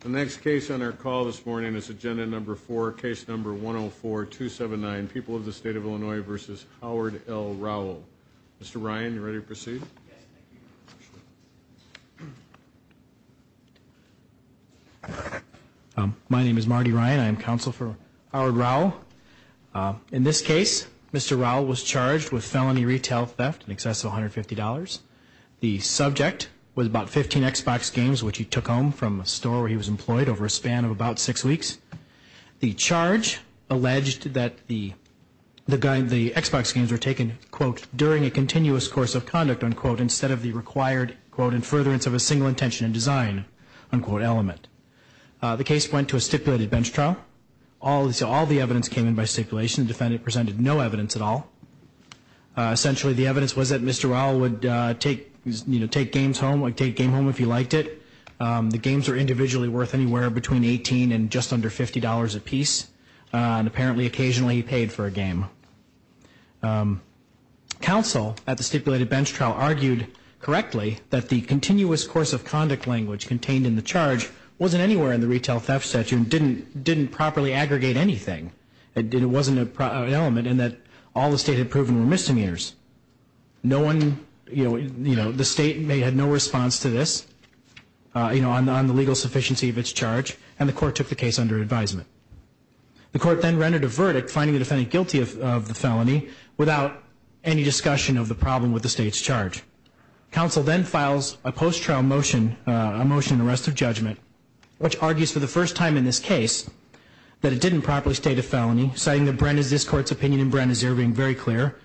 The next case on our call this morning is agenda number 4, case number 104-279, People of the State of Illinois v. Howard L. Rowell. Mr. Ryan, are you ready to proceed? My name is Marty Ryan. I am counsel for Howard Rowell. In this case, Mr. Rowell was charged with felony retail theft in excess of $150. The subject was about 15 Xbox games, which he took home from a store where he was employed over a span of about six weeks. The charge alleged that the Xbox games were taken, quote, during a continuous course of conduct, unquote, instead of the required, quote, in furtherance of a single intention in design, unquote, element. The case went to a stipulated bench trial. All the evidence came in by stipulation. The defendant presented no evidence at all. Essentially, the evidence was that Mr. Rowell would take games home if he liked it. The games were individually worth anywhere between $18 and just under $50 apiece, and apparently occasionally he paid for a game. Counsel at the stipulated bench trial argued correctly that the continuous course of conduct language contained in the charge wasn't anywhere in the retail theft statute and didn't properly aggregate anything. It wasn't an element in that all the state had proven were misdemeanors. No one, you know, the state had no response to this, you know, on the legal sufficiency of its charge, and the court took the case under advisement. The court then rendered a verdict, finding the defendant guilty of the felony, without any discussion of the problem with the state's charge. Counsel then files a post-trial motion, a motion in arrest of judgment, which argues for the first time in this case that it didn't properly state a felony, citing that this court's opinion in Bren is very clear,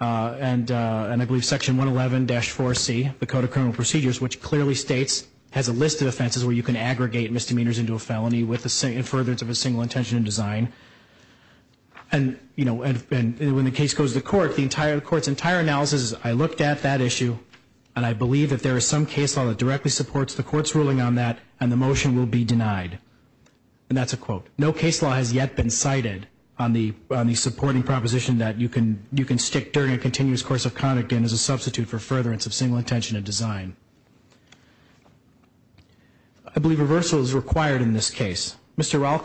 and I believe section 111-4C, the Code of Criminal Procedures, which clearly states, has a list of offenses where you can aggregate misdemeanors into a felony in furtherance of a single intention in design. And, you know, when the case goes to court, the entire court's entire analysis is, I looked at that issue and I believe that there is some case law that directly supports the court's ruling on that and the motion will be denied. And that's a quote. No case law has yet been cited on the supporting proposition that you can stick during a continuous course of conduct in as a substitute for furtherance of single intention in design. I believe reversal is required in this case. Mr. Rall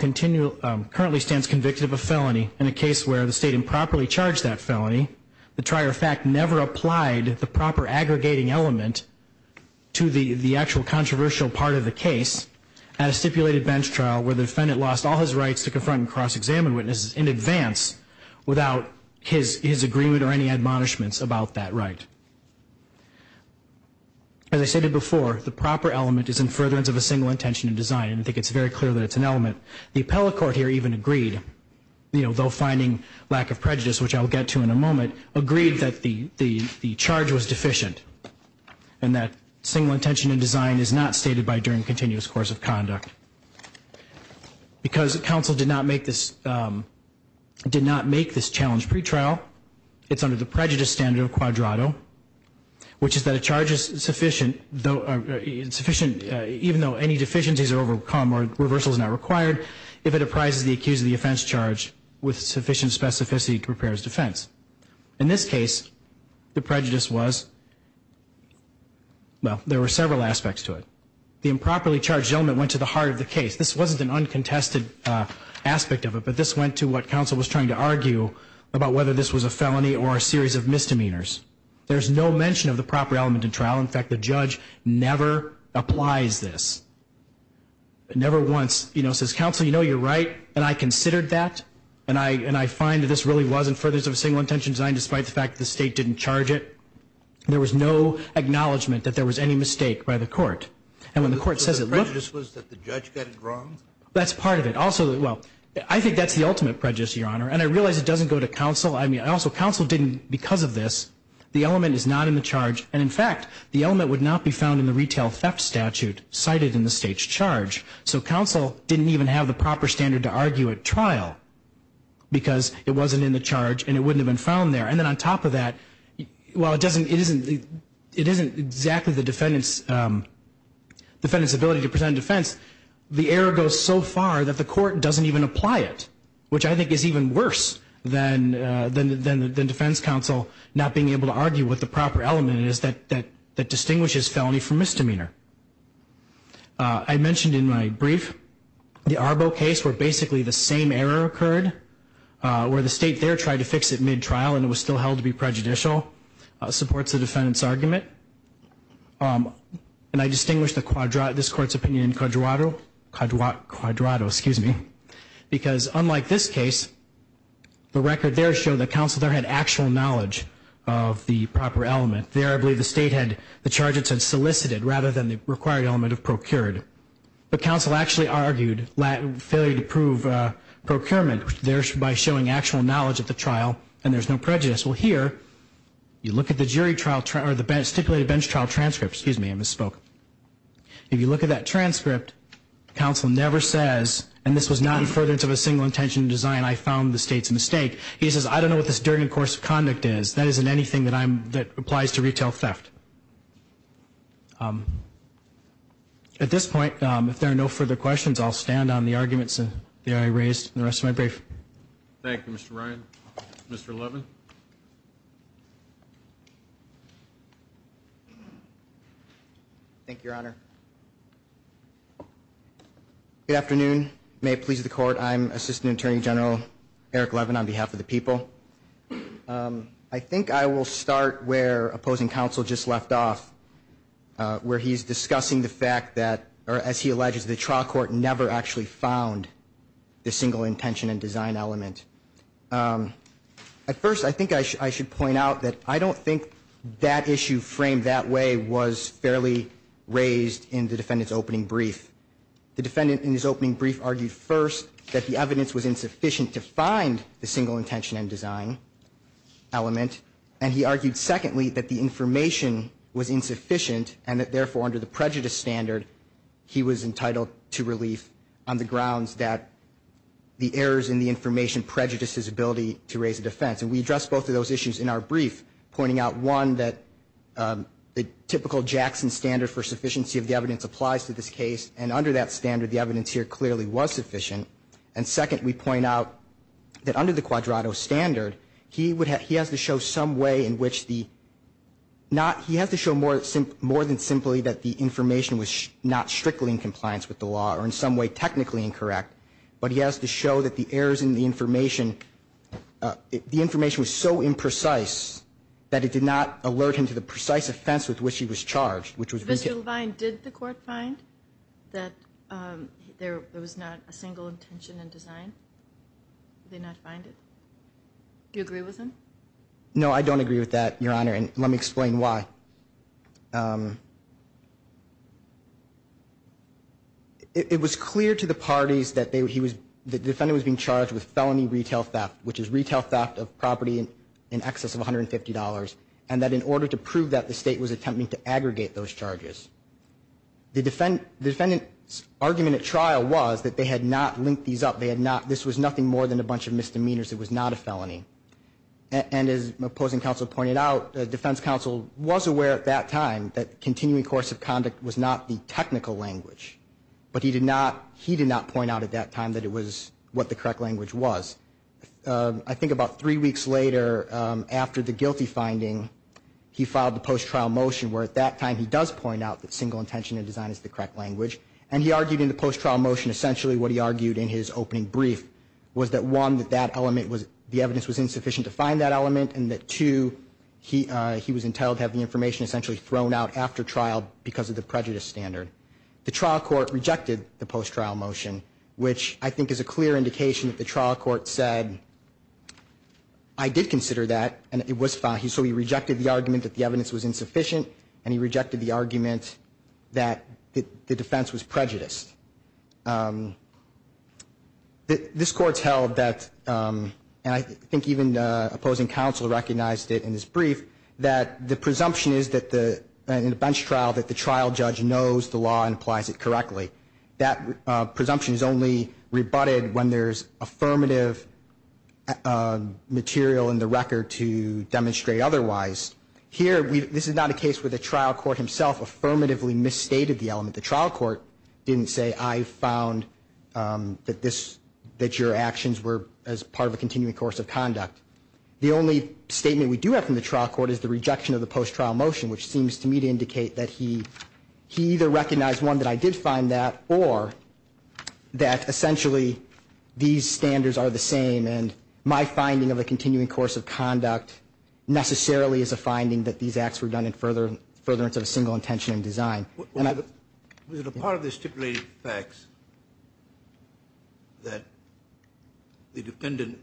currently stands convicted of a felony in a case where the state improperly charged that felony. The trier of fact never applied the proper aggregating element to the actual controversial part of the case at a stipulated bench trial where the defendant lost all his rights to confront and cross-examine witnesses in advance without his agreement or any admonishments about that right. As I stated before, the proper element is in furtherance of a single intention in design, and I think it's very clear that it's an element. The appellate court here even agreed, you know, though finding lack of prejudice, which I will get to in a moment, agreed that the charge was deficient and that single intention in design is not stated by during continuous course of conduct. Because counsel did not make this challenge pretrial, it's under the prejudice standard of quadrato, which is that a charge is sufficient even though any deficiencies are overcome or reversal is not required if it apprises the accused of the offense charge with sufficient specificity to prepare his defense. In this case, the prejudice was, well, there were several aspects to it. The improperly charged gentleman went to the heart of the case. This wasn't an uncontested aspect of it, but this went to what counsel was trying to argue about whether this was a felony or a series of misdemeanors. There's no mention of the proper element in trial. In fact, the judge never applies this. Never once, you know, says, counsel, you know, you're right, and I considered that, and I find that this really wasn't furtherance of a single intention in design, despite the fact that the state didn't charge it. There was no acknowledgment that there was any mistake by the court. And when the court says it looks. So the prejudice was that the judge got it wrong? That's part of it. Also, well, I think that's the ultimate prejudice, Your Honor, and I realize it doesn't go to counsel. I mean, also, counsel didn't, because of this, the element is not in the charge. And, in fact, the element would not be found in the retail theft statute cited in the state's charge. So counsel didn't even have the proper standard to argue at trial because it wasn't in the charge and it wouldn't have been found there. And then on top of that, while it doesn't, it isn't, it isn't exactly the defendant's, defendant's ability to present a defense, the error goes so far that the court doesn't even apply it, which I think is even worse than defense counsel not being able to argue what the proper element is that distinguishes felony from misdemeanor. I mentioned in my brief the Arbo case where basically the same error occurred, where the state there tried to fix it mid-trial and it was still held to be prejudicial, supports the defendant's argument. And I distinguish this court's opinion in Quadrato, Quadrato, excuse me, because unlike this case, the record there showed that counsel there had actual knowledge of the proper element. There, I believe, the state had, the charges had solicited rather than the required element of procured. But counsel actually argued failure to prove procurement there by showing actual knowledge at the trial and there's no prejudice. Well, here, you look at the jury trial, or the stipulated bench trial transcript, excuse me, I misspoke. If you look at that transcript, counsel never says, and this was not in furtherance of a single intention in design, I found the state's mistake. He says, I don't know what this during and course of conduct is. That isn't anything that I'm, that applies to retail theft. At this point, if there are no further questions, I'll stand on the arguments that I raised in the rest of my brief. Thank you, Mr. Ryan. Mr. Levin. Thank you, Your Honor. Good afternoon. May it please the court, I'm Assistant Attorney General Eric Levin on behalf of the people. I think I will start where opposing counsel just left off, where he's discussing the fact that, or as he alleges, the trial court never actually found the single intention in design element. At first, I think I should point out that I don't think that issue framed that way was fairly raised in the defendant's opening brief. The defendant in his opening brief argued first that the evidence was insufficient to find the single intention in design element, and he argued secondly that the information was insufficient and that, therefore, under the prejudice standard, he was entitled to relief on the grounds that the errors in the information prejudiced his ability to raise a defense. And we addressed both of those issues in our brief, pointing out, one, that the typical Jackson standard for sufficiency of the evidence applies to this case, and under that standard, the evidence here clearly was sufficient. And second, we point out that under the quadrato standard, he has to show some way in which the not he has to show more than simply that the information was not strictly in compliance with the law or in some way technically incorrect, but he has to show that the errors in the information, the information was so imprecise that it did not alert him to the precise offense with which he was charged. Mr. Levine, did the court find that there was not a single intention in design? Did they not find it? Do you agree with him? No, I don't agree with that, Your Honor, and let me explain why. It was clear to the parties that the defendant was being charged with felony retail theft, which is retail theft of property in excess of $150, and that in order to prove that, the state was attempting to aggregate those charges. The defendant's argument at trial was that they had not linked these up. This was nothing more than a bunch of misdemeanors. It was not a felony. And as opposing counsel pointed out, the defense counsel was aware at that time that continuing course of conduct was not the technical language, but he did not point out at that time that it was what the correct language was. I think about three weeks later, after the guilty finding, he filed the post-trial motion, where at that time he does point out that single intention in design is the correct language, and he argued in the post-trial motion essentially what he argued in his opening brief, was that, one, that the evidence was insufficient to find that element, and that, two, he was entitled to have the information essentially thrown out after trial because of the prejudice standard. The trial court rejected the post-trial motion, which I think is a clear indication that the trial court said, I did consider that, and it was fine. So he rejected the argument that the evidence was insufficient, and he rejected the argument that the defense was prejudiced. This court held that, and I think even opposing counsel recognized it in his brief, that the presumption is in a bench trial that the trial judge knows the law and applies it correctly. That presumption is only rebutted when there's affirmative material in the record to demonstrate otherwise. Here, this is not a case where the trial court himself affirmatively misstated the element. The trial court didn't say, I found that your actions were as part of a continuing course of conduct. The only statement we do have from the trial court is the rejection of the post-trial motion, which seems to me to indicate that he either recognized, one, that I did find that, or that essentially these standards are the same, and my finding of a continuing course of conduct necessarily is a finding that these acts were done in furtherance of a single intention in design. Was it a part of the stipulated facts that the defendant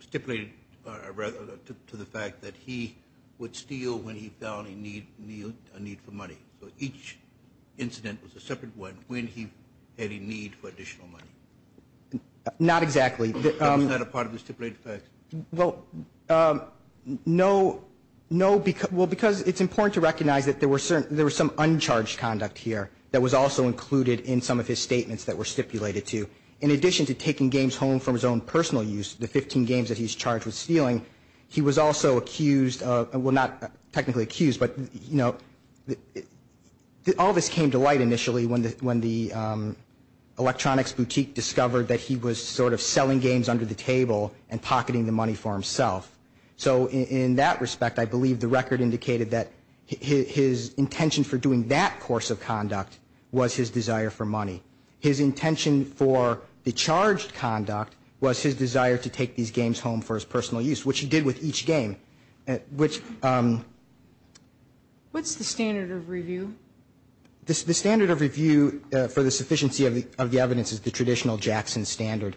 stipulated to the fact that he would steal when he felt a need for money? So each incident was a separate one when he had a need for additional money? Not exactly. Was that a part of the stipulated facts? Well, no, because it's important to recognize that there was some uncharged conduct here that was also included in some of his statements that were stipulated to. In addition to taking games home from his own personal use, the 15 games that he's charged with stealing, he was also accused of, well, not technically accused, but all this came to light initially when the electronics boutique discovered that he was sort of selling games under the table and pocketing the money for himself. So in that respect, I believe the record indicated that his intention for doing that course of conduct was his desire for money. His intention for the charged conduct was his desire to take these games home for his personal use, which he did with each game. What's the standard of review? The standard of review for the sufficiency of the evidence is the traditional Jackson standard.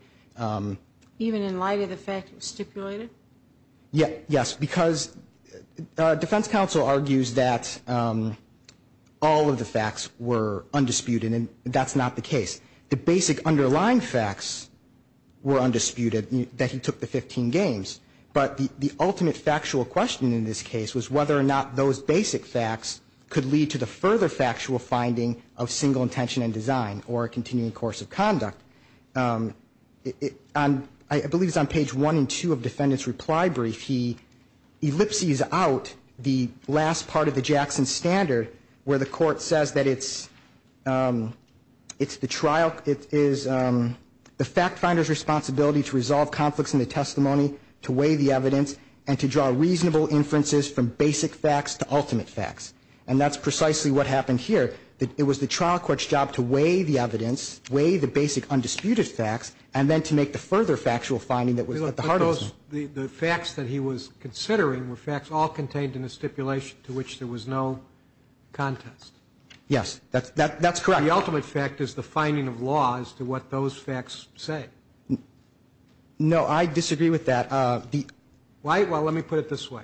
Even in light of the fact it was stipulated? Yes, because defense counsel argues that all of the facts were undisputed, and that's not the case. The basic underlying facts were undisputed, that he took the 15 games. But the ultimate factual question in this case was whether or not those basic facts could lead to the further factual finding of single intention and design or a continuing course of conduct. I believe it's on page 1 and 2 of the defendant's reply brief. He ellipses out the last part of the Jackson standard where the court says that it's the trial, the fact finder's responsibility to resolve conflicts in the testimony, to weigh the evidence, and to draw reasonable inferences from basic facts to ultimate facts. And that's precisely what happened here. It was the trial court's job to weigh the evidence, weigh the basic undisputed facts, and then to make the further factual finding that was at the heart of it. The facts that he was considering were facts all contained in a stipulation to which there was no contest. Yes, that's correct. The ultimate fact is the finding of law as to what those facts say. No, I disagree with that. Why? Well, let me put it this way.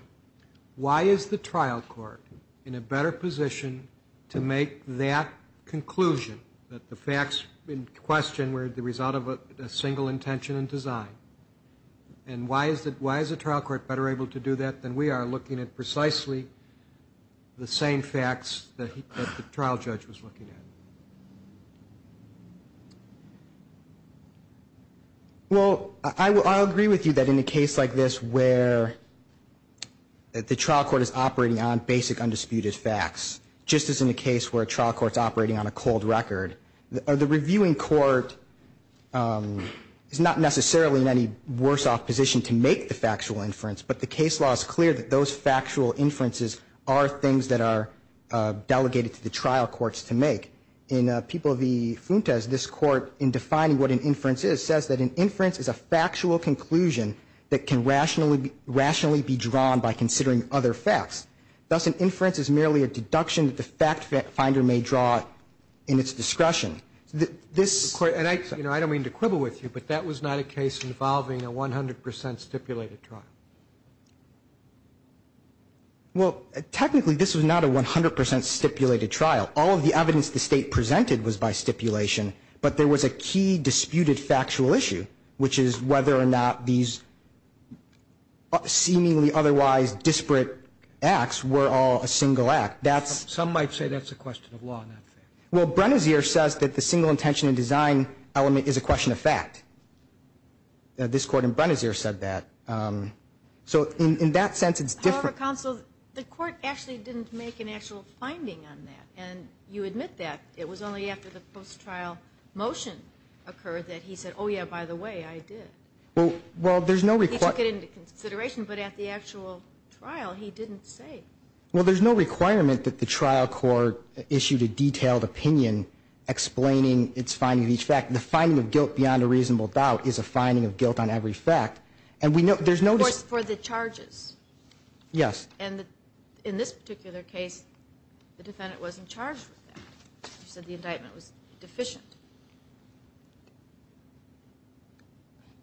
Why is the trial court in a better position to make that conclusion, that the facts in question were the result of a single intention and design? And why is the trial court better able to do that than we are, looking at precisely the same facts that the trial judge was looking at? Well, I agree with you that in a case like this where the trial court is operating on basic undisputed facts, just as in a case where a trial court's operating on a cold record, the reviewing court is not necessarily in any worse off position to make the factual inference, but the case law is clear that those factual inferences are things that are delegated to the trial courts to make. In People v. Fuentes, this Court, in defining what an inference is, says that an inference is a factual conclusion that can rationally be drawn by considering other facts. Thus, an inference is merely a deduction that the fact finder may draw in its discretion. And I don't mean to quibble with you, but that was not a case involving a 100 percent stipulated trial. Well, technically, this was not a 100 percent stipulated trial. All of the evidence the State presented was by stipulation, but there was a key disputed factual issue, which is whether or not these seemingly otherwise disparate acts were all a single act. Some might say that's a question of law, not fact. Well, Brenezier says that the single intention and design element is a question of fact. This Court in Brenezier said that. So in that sense, it's different. However, counsel, the Court actually didn't make an actual finding on that, and you admit that. It was only after the post-trial motion occurred that he said, oh, yeah, by the way, I did. He took it into consideration, but at the actual trial, he didn't say. Well, there's no requirement that the trial court issued a detailed opinion explaining its finding of each fact. The finding of guilt beyond a reasonable doubt is a finding of guilt on every fact. Of course, for the charges. Yes. And in this particular case, the defendant wasn't charged with that. You said the indictment was deficient.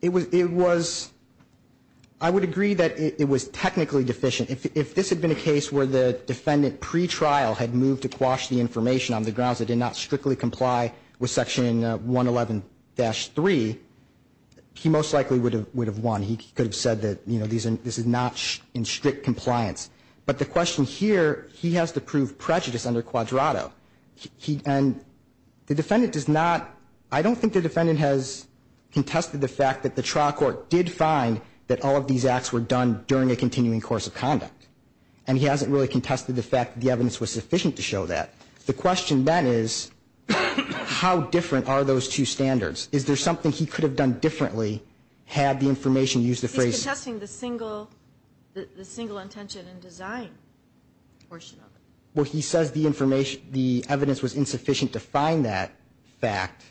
It was, I would agree that it was technically deficient. If this had been a case where the defendant pre-trial had moved to quash the information on the grounds it did not strictly comply with Section 111-3, he most likely would have won. He could have said that this is not in strict compliance. But the question here, he has to prove prejudice under quadrato. And the defendant does not, I don't think the defendant has contested the fact that the trial court did find that all of these acts were done during a continuing course of conduct. And he hasn't really contested the fact that the evidence was sufficient to show that. The question then is, how different are those two standards? Is there something he could have done differently had the information used to phrase it? He's contesting the single intention and design portion of it. Well, he says the evidence was insufficient to find that fact.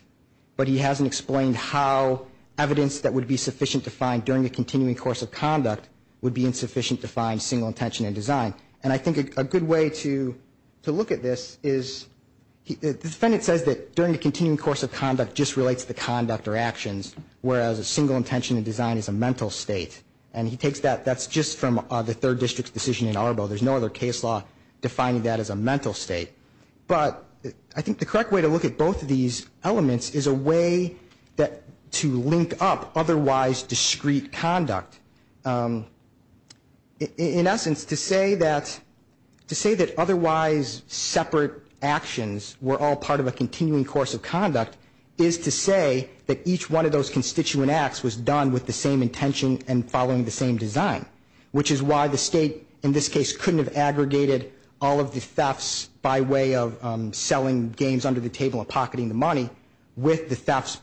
But he hasn't explained how evidence that would be sufficient to find during a continuing course of conduct would be insufficient to find single intention and design. And I think a good way to look at this is, the defendant says that during the continuing course of conduct just relates to the conduct of the defendant. Whereas a single intention and design is a mental state. And he takes that, that's just from the third district's decision in Arbo. There's no other case law defining that as a mental state. But I think the correct way to look at both of these elements is a way to link up otherwise discrete conduct. In essence, to say that, to say that otherwise separate actions were all part of a continuing course of conduct is to say that each one of those constituent acts was done with the same intention and following the same design. Which is why the state, in this case, couldn't have aggregated all of the thefts by way of selling games under the table and pocketing the money with the thefts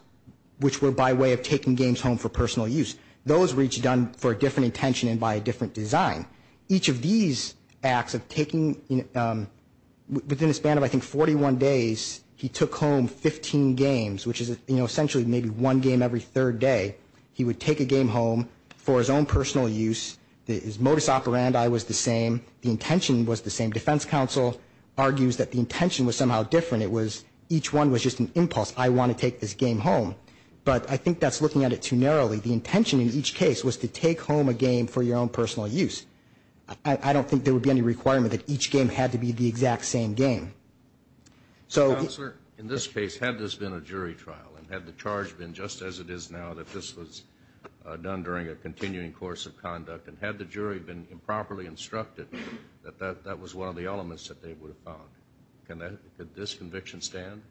which were by way of taking games home for personal use. Those were each done for a different intention and by a different design. Each of these acts of taking, within a span of I think 41 days, he took home 15 games, which is essentially maybe one game every third day. He would take a game home for his own personal use. His modus operandi was the same. The intention was the same. The defense counsel argues that the intention was somehow different. It was each one was just an impulse. I want to take this game home. But I think that's looking at it too narrowly. The intention in each case was to take home a game for your own personal use. I don't think there would be any requirement that each game had to be the exact same game. Counselor, in this case, had this been a jury trial and had the charge been just as it is now that this was done during a continuing course of conduct, and had the jury been improperly instructed that that was one of the elements that they would have found, could this conviction stand?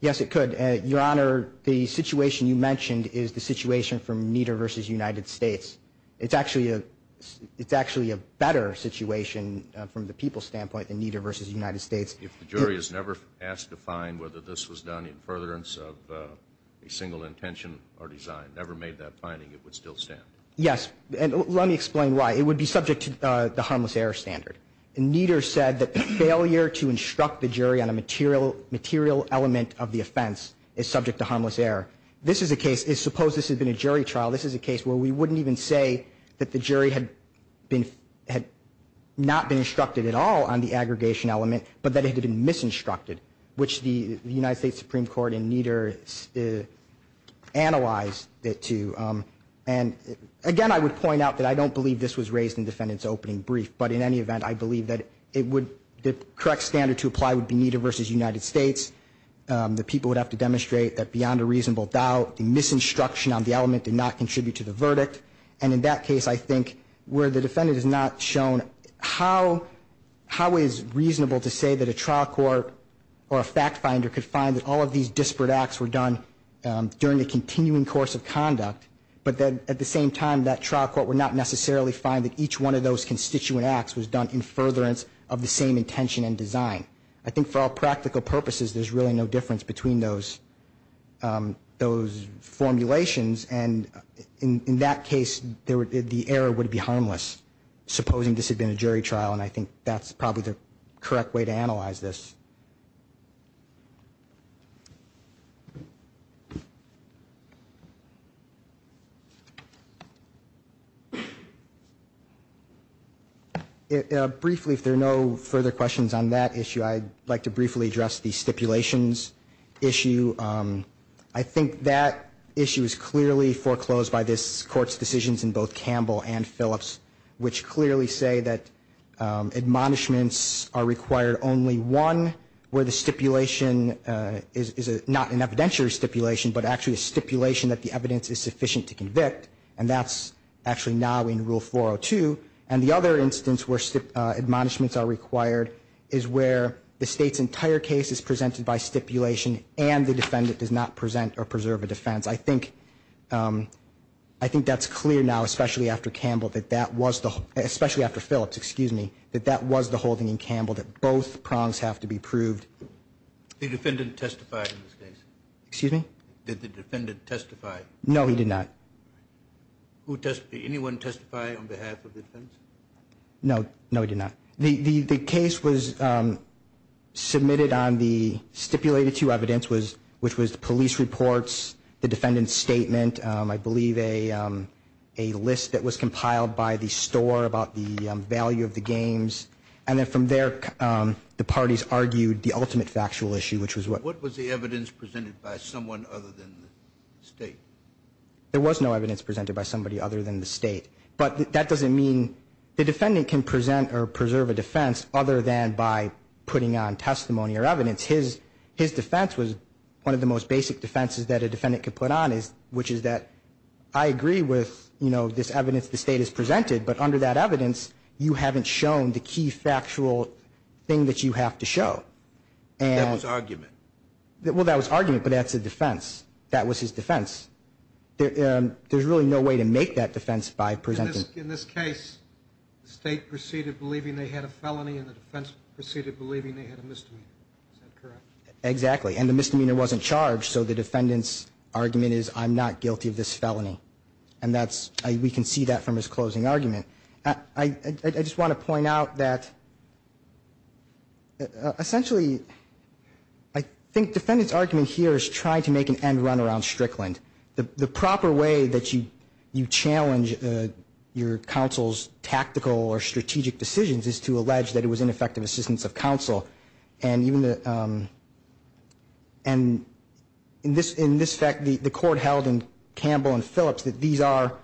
Yes, it could. Your Honor, the situation you mentioned is the situation from Nieder v. United States. It's actually a better situation from the people's standpoint than Nieder v. United States. If the jury is never asked to find whether this was done in furtherance of a single intention or design, never made that finding, it would still stand? Yes. Let me explain why. It would be subject to the harmless error standard. Nieder said that failure to instruct the jury on a material element of the offense is subject to harmless error. Suppose this had been a jury trial. This is a case where we wouldn't even say that the jury had not been instructed at all on the aggregation element, but that it had been misinstructed, which the United States Supreme Court and Nieder analyzed it to. I want to point out that I don't believe this was raised in the defendant's opening brief. But in any event, I believe that the correct standard to apply would be Nieder v. United States. The people would have to demonstrate that beyond a reasonable doubt, the misinstruction on the element did not contribute to the verdict. And in that case, I think where the defendant has not shown how it is reasonable to say that a trial court or a fact finder could find that all of these disparate acts were done during the continuing course of conduct, but then at the same time, that trial court would not necessarily find that each one of those constituent acts was done in furtherance of the same intention and design. I think for all practical purposes, there's really no difference between those formulations. And in that case, the error would be harmless, supposing this had been a jury trial. And I think that's probably the correct way to analyze this. Briefly, if there are no further questions on that issue, I'd like to briefly address the stipulations issue. I think that issue is clearly foreclosed by this Court's decisions in both Campbell and Phillips, which clearly say that admonishments are required only one, where the stipulation is not an evidentiary stipulation, but actually a stipulation that the evidence is sufficient to convict, and that's actually now in Rule 402. And the other instance where admonishments are required is where the State's entire case is presented by stipulation, and the defendant does not present or preserve a defense. I think that's clear now, especially after Phillips, that that was the holding in Campbell that both prongs have to be proved. Did the defendant testify in this case? No, he did not. Did anyone testify on behalf of the defense? No, he did not. The case was submitted on the stipulated two evidence, which was the police reports, the defendant's statement, I believe a list that was compiled by the store about the value of the games, and then from there the parties argued the ultimate factual issue, which was what? What was the evidence presented by someone other than the State? There was no evidence presented by somebody other than the State. But that doesn't mean the defendant can present or preserve a defense other than by putting on testimony or evidence. His defense was one of the most basic defenses that a defendant could put on, which is that I agree with this evidence the State has presented, but under that evidence you haven't shown the key factual thing that you have to show. That was argument. Well, that was argument, but that's a defense. That was his defense. There's really no way to make that defense by presenting. In this case, the State proceeded believing they had a felony and the defense proceeded believing they had a misdemeanor. Is that correct? Exactly. And the misdemeanor wasn't charged, so the defendant's argument is I'm not guilty of this felony. And we can see that from his closing argument. I just want to point out that, essentially, I think the defendant's argument here is trying to make an end run around Strickland. The proper way that you challenge your counsel's tactical or strategic decisions is to allege that it was ineffective assistance of counsel. And in this fact, the court held in Campbell and Phillips that these are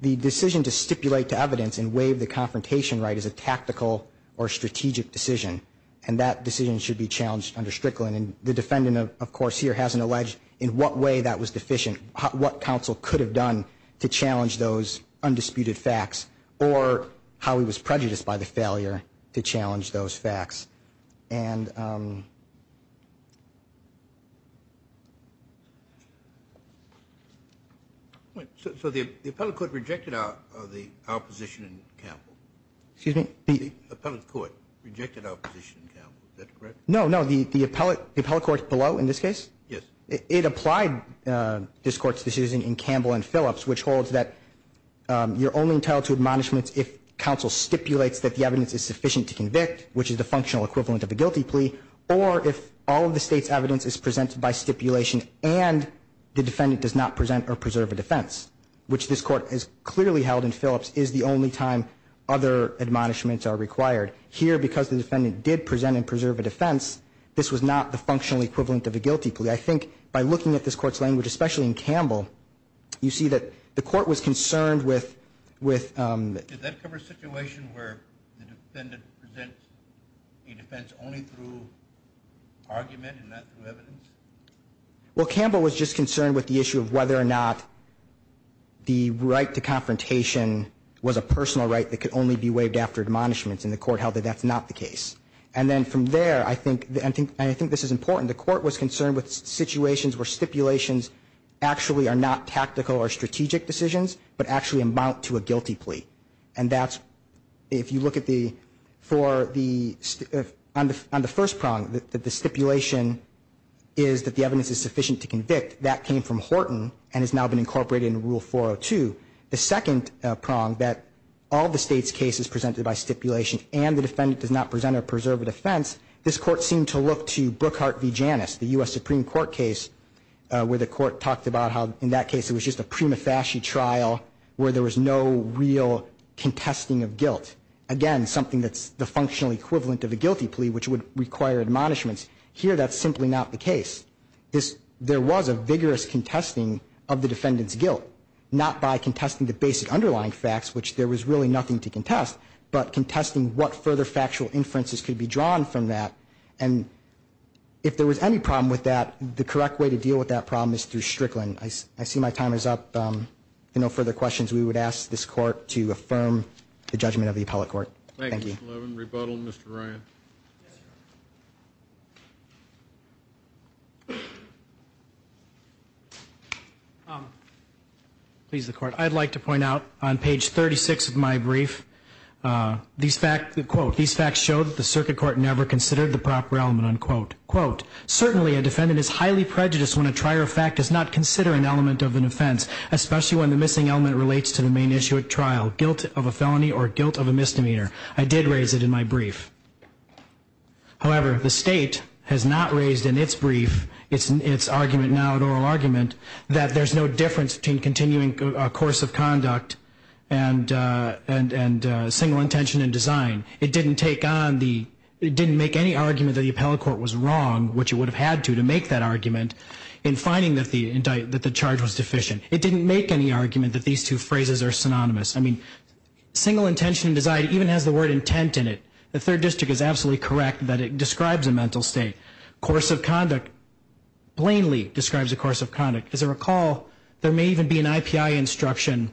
the decision to stipulate to evidence and waive the confrontation right as a tactical or strategic decision. And that decision should be challenged under Strickland. And the defendant, of course, here hasn't alleged in what way that was deficient, what counsel could have done to challenge those undisputed facts or how he was prejudiced by the failure to challenge those facts. And... So the appellate court rejected the opposition in Campbell? Excuse me? The appellate court rejected our position in Campbell. Is that correct? No, no. The appellate court below in this case? Yes. It applied this court's decision in Campbell and Phillips, which holds that you're only entitled to admonishments if counsel stipulates that the evidence is sufficient to convict, which is the functional equivalent of a guilty plea, or if all of the state's evidence is presented by stipulation and the defendant does not present or preserve a defense, which this court has clearly held in Phillips is the only time other admonishments are required. Here, because the defendant did present and preserve a defense, this was not the functional equivalent of a guilty plea. I think by looking at this court's language, especially in Campbell, you see that the court was concerned with... Did that cover a situation where the defendant presents a defense only through argument and not through evidence? Well, Campbell was just concerned with the issue of whether or not the right to confrontation was a personal right that could only be waived after admonishments, and the court held that that's not the case. And then from there, I think this is important, the court was concerned with situations where stipulations actually are not tactical or strategic decisions, but actually amount to a guilty plea. And that's... If you look at the... For the... On the first prong, the stipulation is that the evidence is sufficient to convict. That came from Horton and has now been incorporated in Rule 402. The second prong, that all the state's case is presented by stipulation, and the defendant does not present or preserve a defense, this court seemed to look to Brookhart v. Janus, the U.S. Supreme Court case, where the court talked about how, in that case, it was just a prima facie trial where there was no real contesting of guilt. Again, something that's the functional equivalent of a guilty plea, which would require admonishments. Here, that's simply not the case. There was a vigorous contesting of the defendant's guilt, not by contesting the basic underlying facts, which there was really nothing to contest, but contesting what further factual inferences could be drawn from that. And if there was any problem with that, the correct way to deal with that problem is through Strickland. I see my time is up. If there are no further questions, we would ask this court to affirm the judgment of the appellate court. Thank you. Please, the court. I'd like to point out on page 36 of my brief, these facts, quote, these facts show that the circuit court never considered the proper element, unquote. Quote, certainly a defendant is highly prejudiced when a trier of fact does not consider an element of an offense, especially when the missing element relates to the main issue at trial, guilt of a felony or guilt of a misdemeanor. I did raise it in my brief. However, the state has not raised in its brief, its argument now, an oral argument, that there's no difference between continuing a course of conduct and single intention in design. It didn't take on the, it didn't make any argument that the appellate court was wrong, which it would have had to to make that argument, in finding that the charge was deficient. It didn't make any argument that these two phrases are synonymous. I mean, single intention in design even has the word intent in it. The third district is absolutely correct that it describes a mental state. Course of conduct, plainly describes a course of conduct. As I recall, there may even be an IPI instruction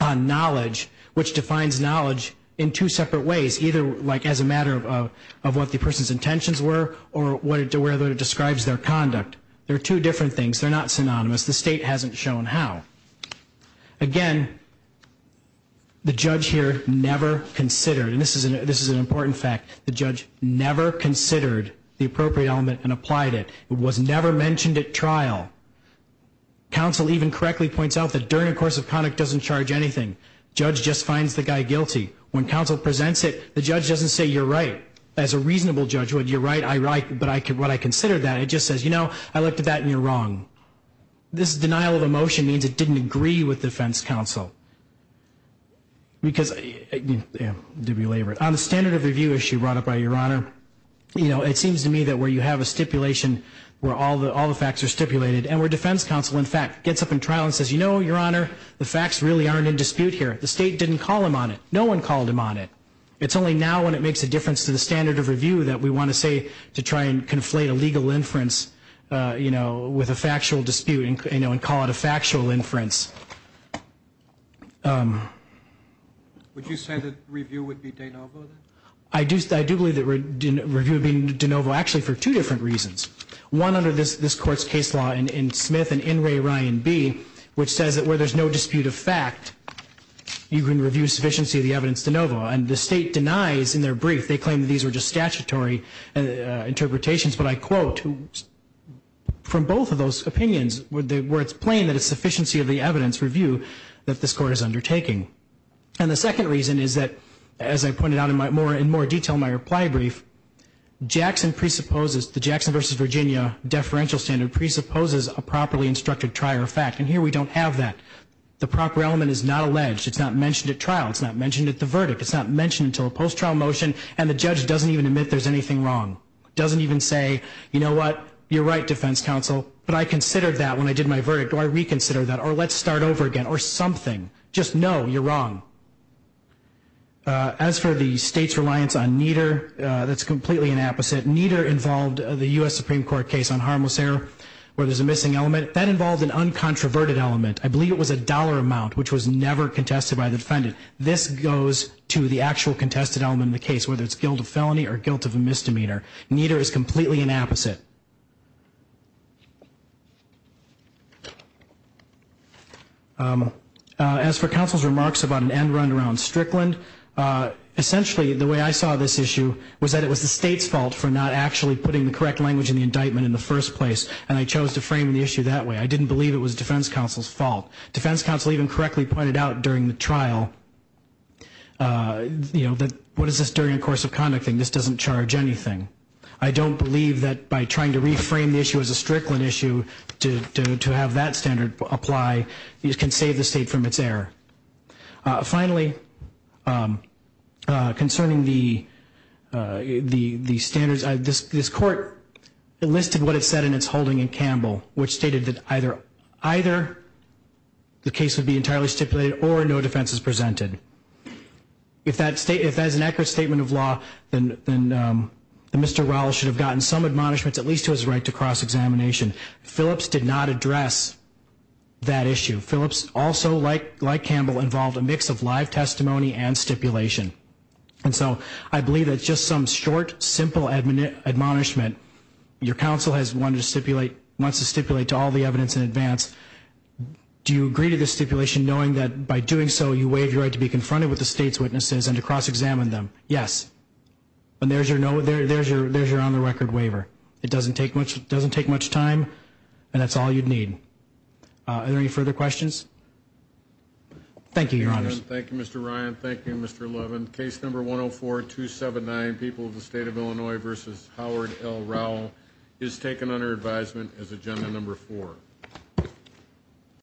on knowledge, which defines knowledge in two separate ways, either like as a matter of what the person's intentions were or whether it describes their conduct. They're two different things. They're not synonymous. The state hasn't shown how. Again, the judge here never considered, and this is an important fact, the judge never considered the appropriate element and applied it. It was never mentioned at trial. Counsel even correctly points out that during a course of conduct doesn't charge anything. Judge just finds the guy guilty. When counsel presents it, the judge doesn't say, you're right. As a reasonable judge would, you're right, I'm right, but what I considered that. It just says, you know, I looked at that and you're wrong. This denial of a motion means it didn't agree with defense counsel. On the standard of review issue brought up by Your Honor, it seems to me that where you have a stipulation where all the facts are stipulated and where defense counsel, in fact, gets up in trial and says, you know, Your Honor, the facts really aren't in dispute here. The state didn't call him on it. No one called him on it. It's only now when it makes a difference to the standard of review that we want to say, to try and conflate a legal inference, you know, with a factual dispute, you know, and call it a factual inference. Would you say that review would be de novo then? I do believe that review would be de novo actually for two different reasons. One, under this court's case law in Smith and in Ray Ryan B, which says that where there's no dispute of fact, you can review sufficiency of the evidence de novo. And the state denies in their brief, they claim these were just statutory interpretations, but I quote, from both of those opinions, where it's plain that it's sufficiency of the evidence review that this court is undertaking. And the second reason is that, as I pointed out in more detail in my reply brief, Jackson presupposes, the Jackson v. Virginia deferential standard presupposes a properly instructed trier of fact. And here we don't have that. The proper element is not alleged. It's not mentioned at trial. It's not mentioned at the verdict. It's not mentioned until a post-trial motion, and the judge doesn't even admit there's anything wrong. Doesn't even say, you know what, you're right, defense counsel, but I considered that when I did my verdict, or I reconsidered that, or let's start over again, or something. Just know you're wrong. As for the state's reliance on NEDER, that's completely an opposite. NEDER involved the U.S. Supreme Court case on harmless error, where there's a missing element. That involved an uncontroverted element. I believe it was a dollar amount, which was never contested by the defendant. This goes to the actual contested element in the case, whether it's guilt of felony or guilt of a misdemeanor. NEDER is completely an opposite. As for counsel's remarks about an end run around Strickland, essentially the way I saw this issue was that it was the state's fault for not actually putting the correct language in the indictment in the first place, and I chose to frame the issue that way. I didn't believe it was defense counsel's fault. Defense counsel even correctly pointed out during the trial that, what is this during a course of conducting? This doesn't charge anything. I don't believe that by trying to reframe the issue as a Strickland issue, to have that standard apply, you can save the state from its error. Finally, concerning the standards, this court enlisted what it said in its holding in Campbell, which stated that either the case would be entirely stipulated or no defense is presented. If that is an accurate statement of law, then Mr. Rowell should have gotten some admonishments, at least to his right, to cross-examination. Phillips did not address that issue. Phillips also, like Campbell, involved a mix of live testimony and stipulation. And so I believe that just some short, simple admonishment, your counsel wants to stipulate to all the evidence in advance, do you agree to the stipulation knowing that by doing so, you waive your right to be confronted with the state's witnesses and to cross-examine them? Yes. And there's your on-the-record waiver. It doesn't take much time, and that's all you'd need. Are there any further questions? Thank you, Your Honors. Thank you, Mr. Ryan. Thank you, Mr. Levin. Case number 104-279, People of the State of Illinois v. Howard L. Rowell, is taken under advisement as agenda number four.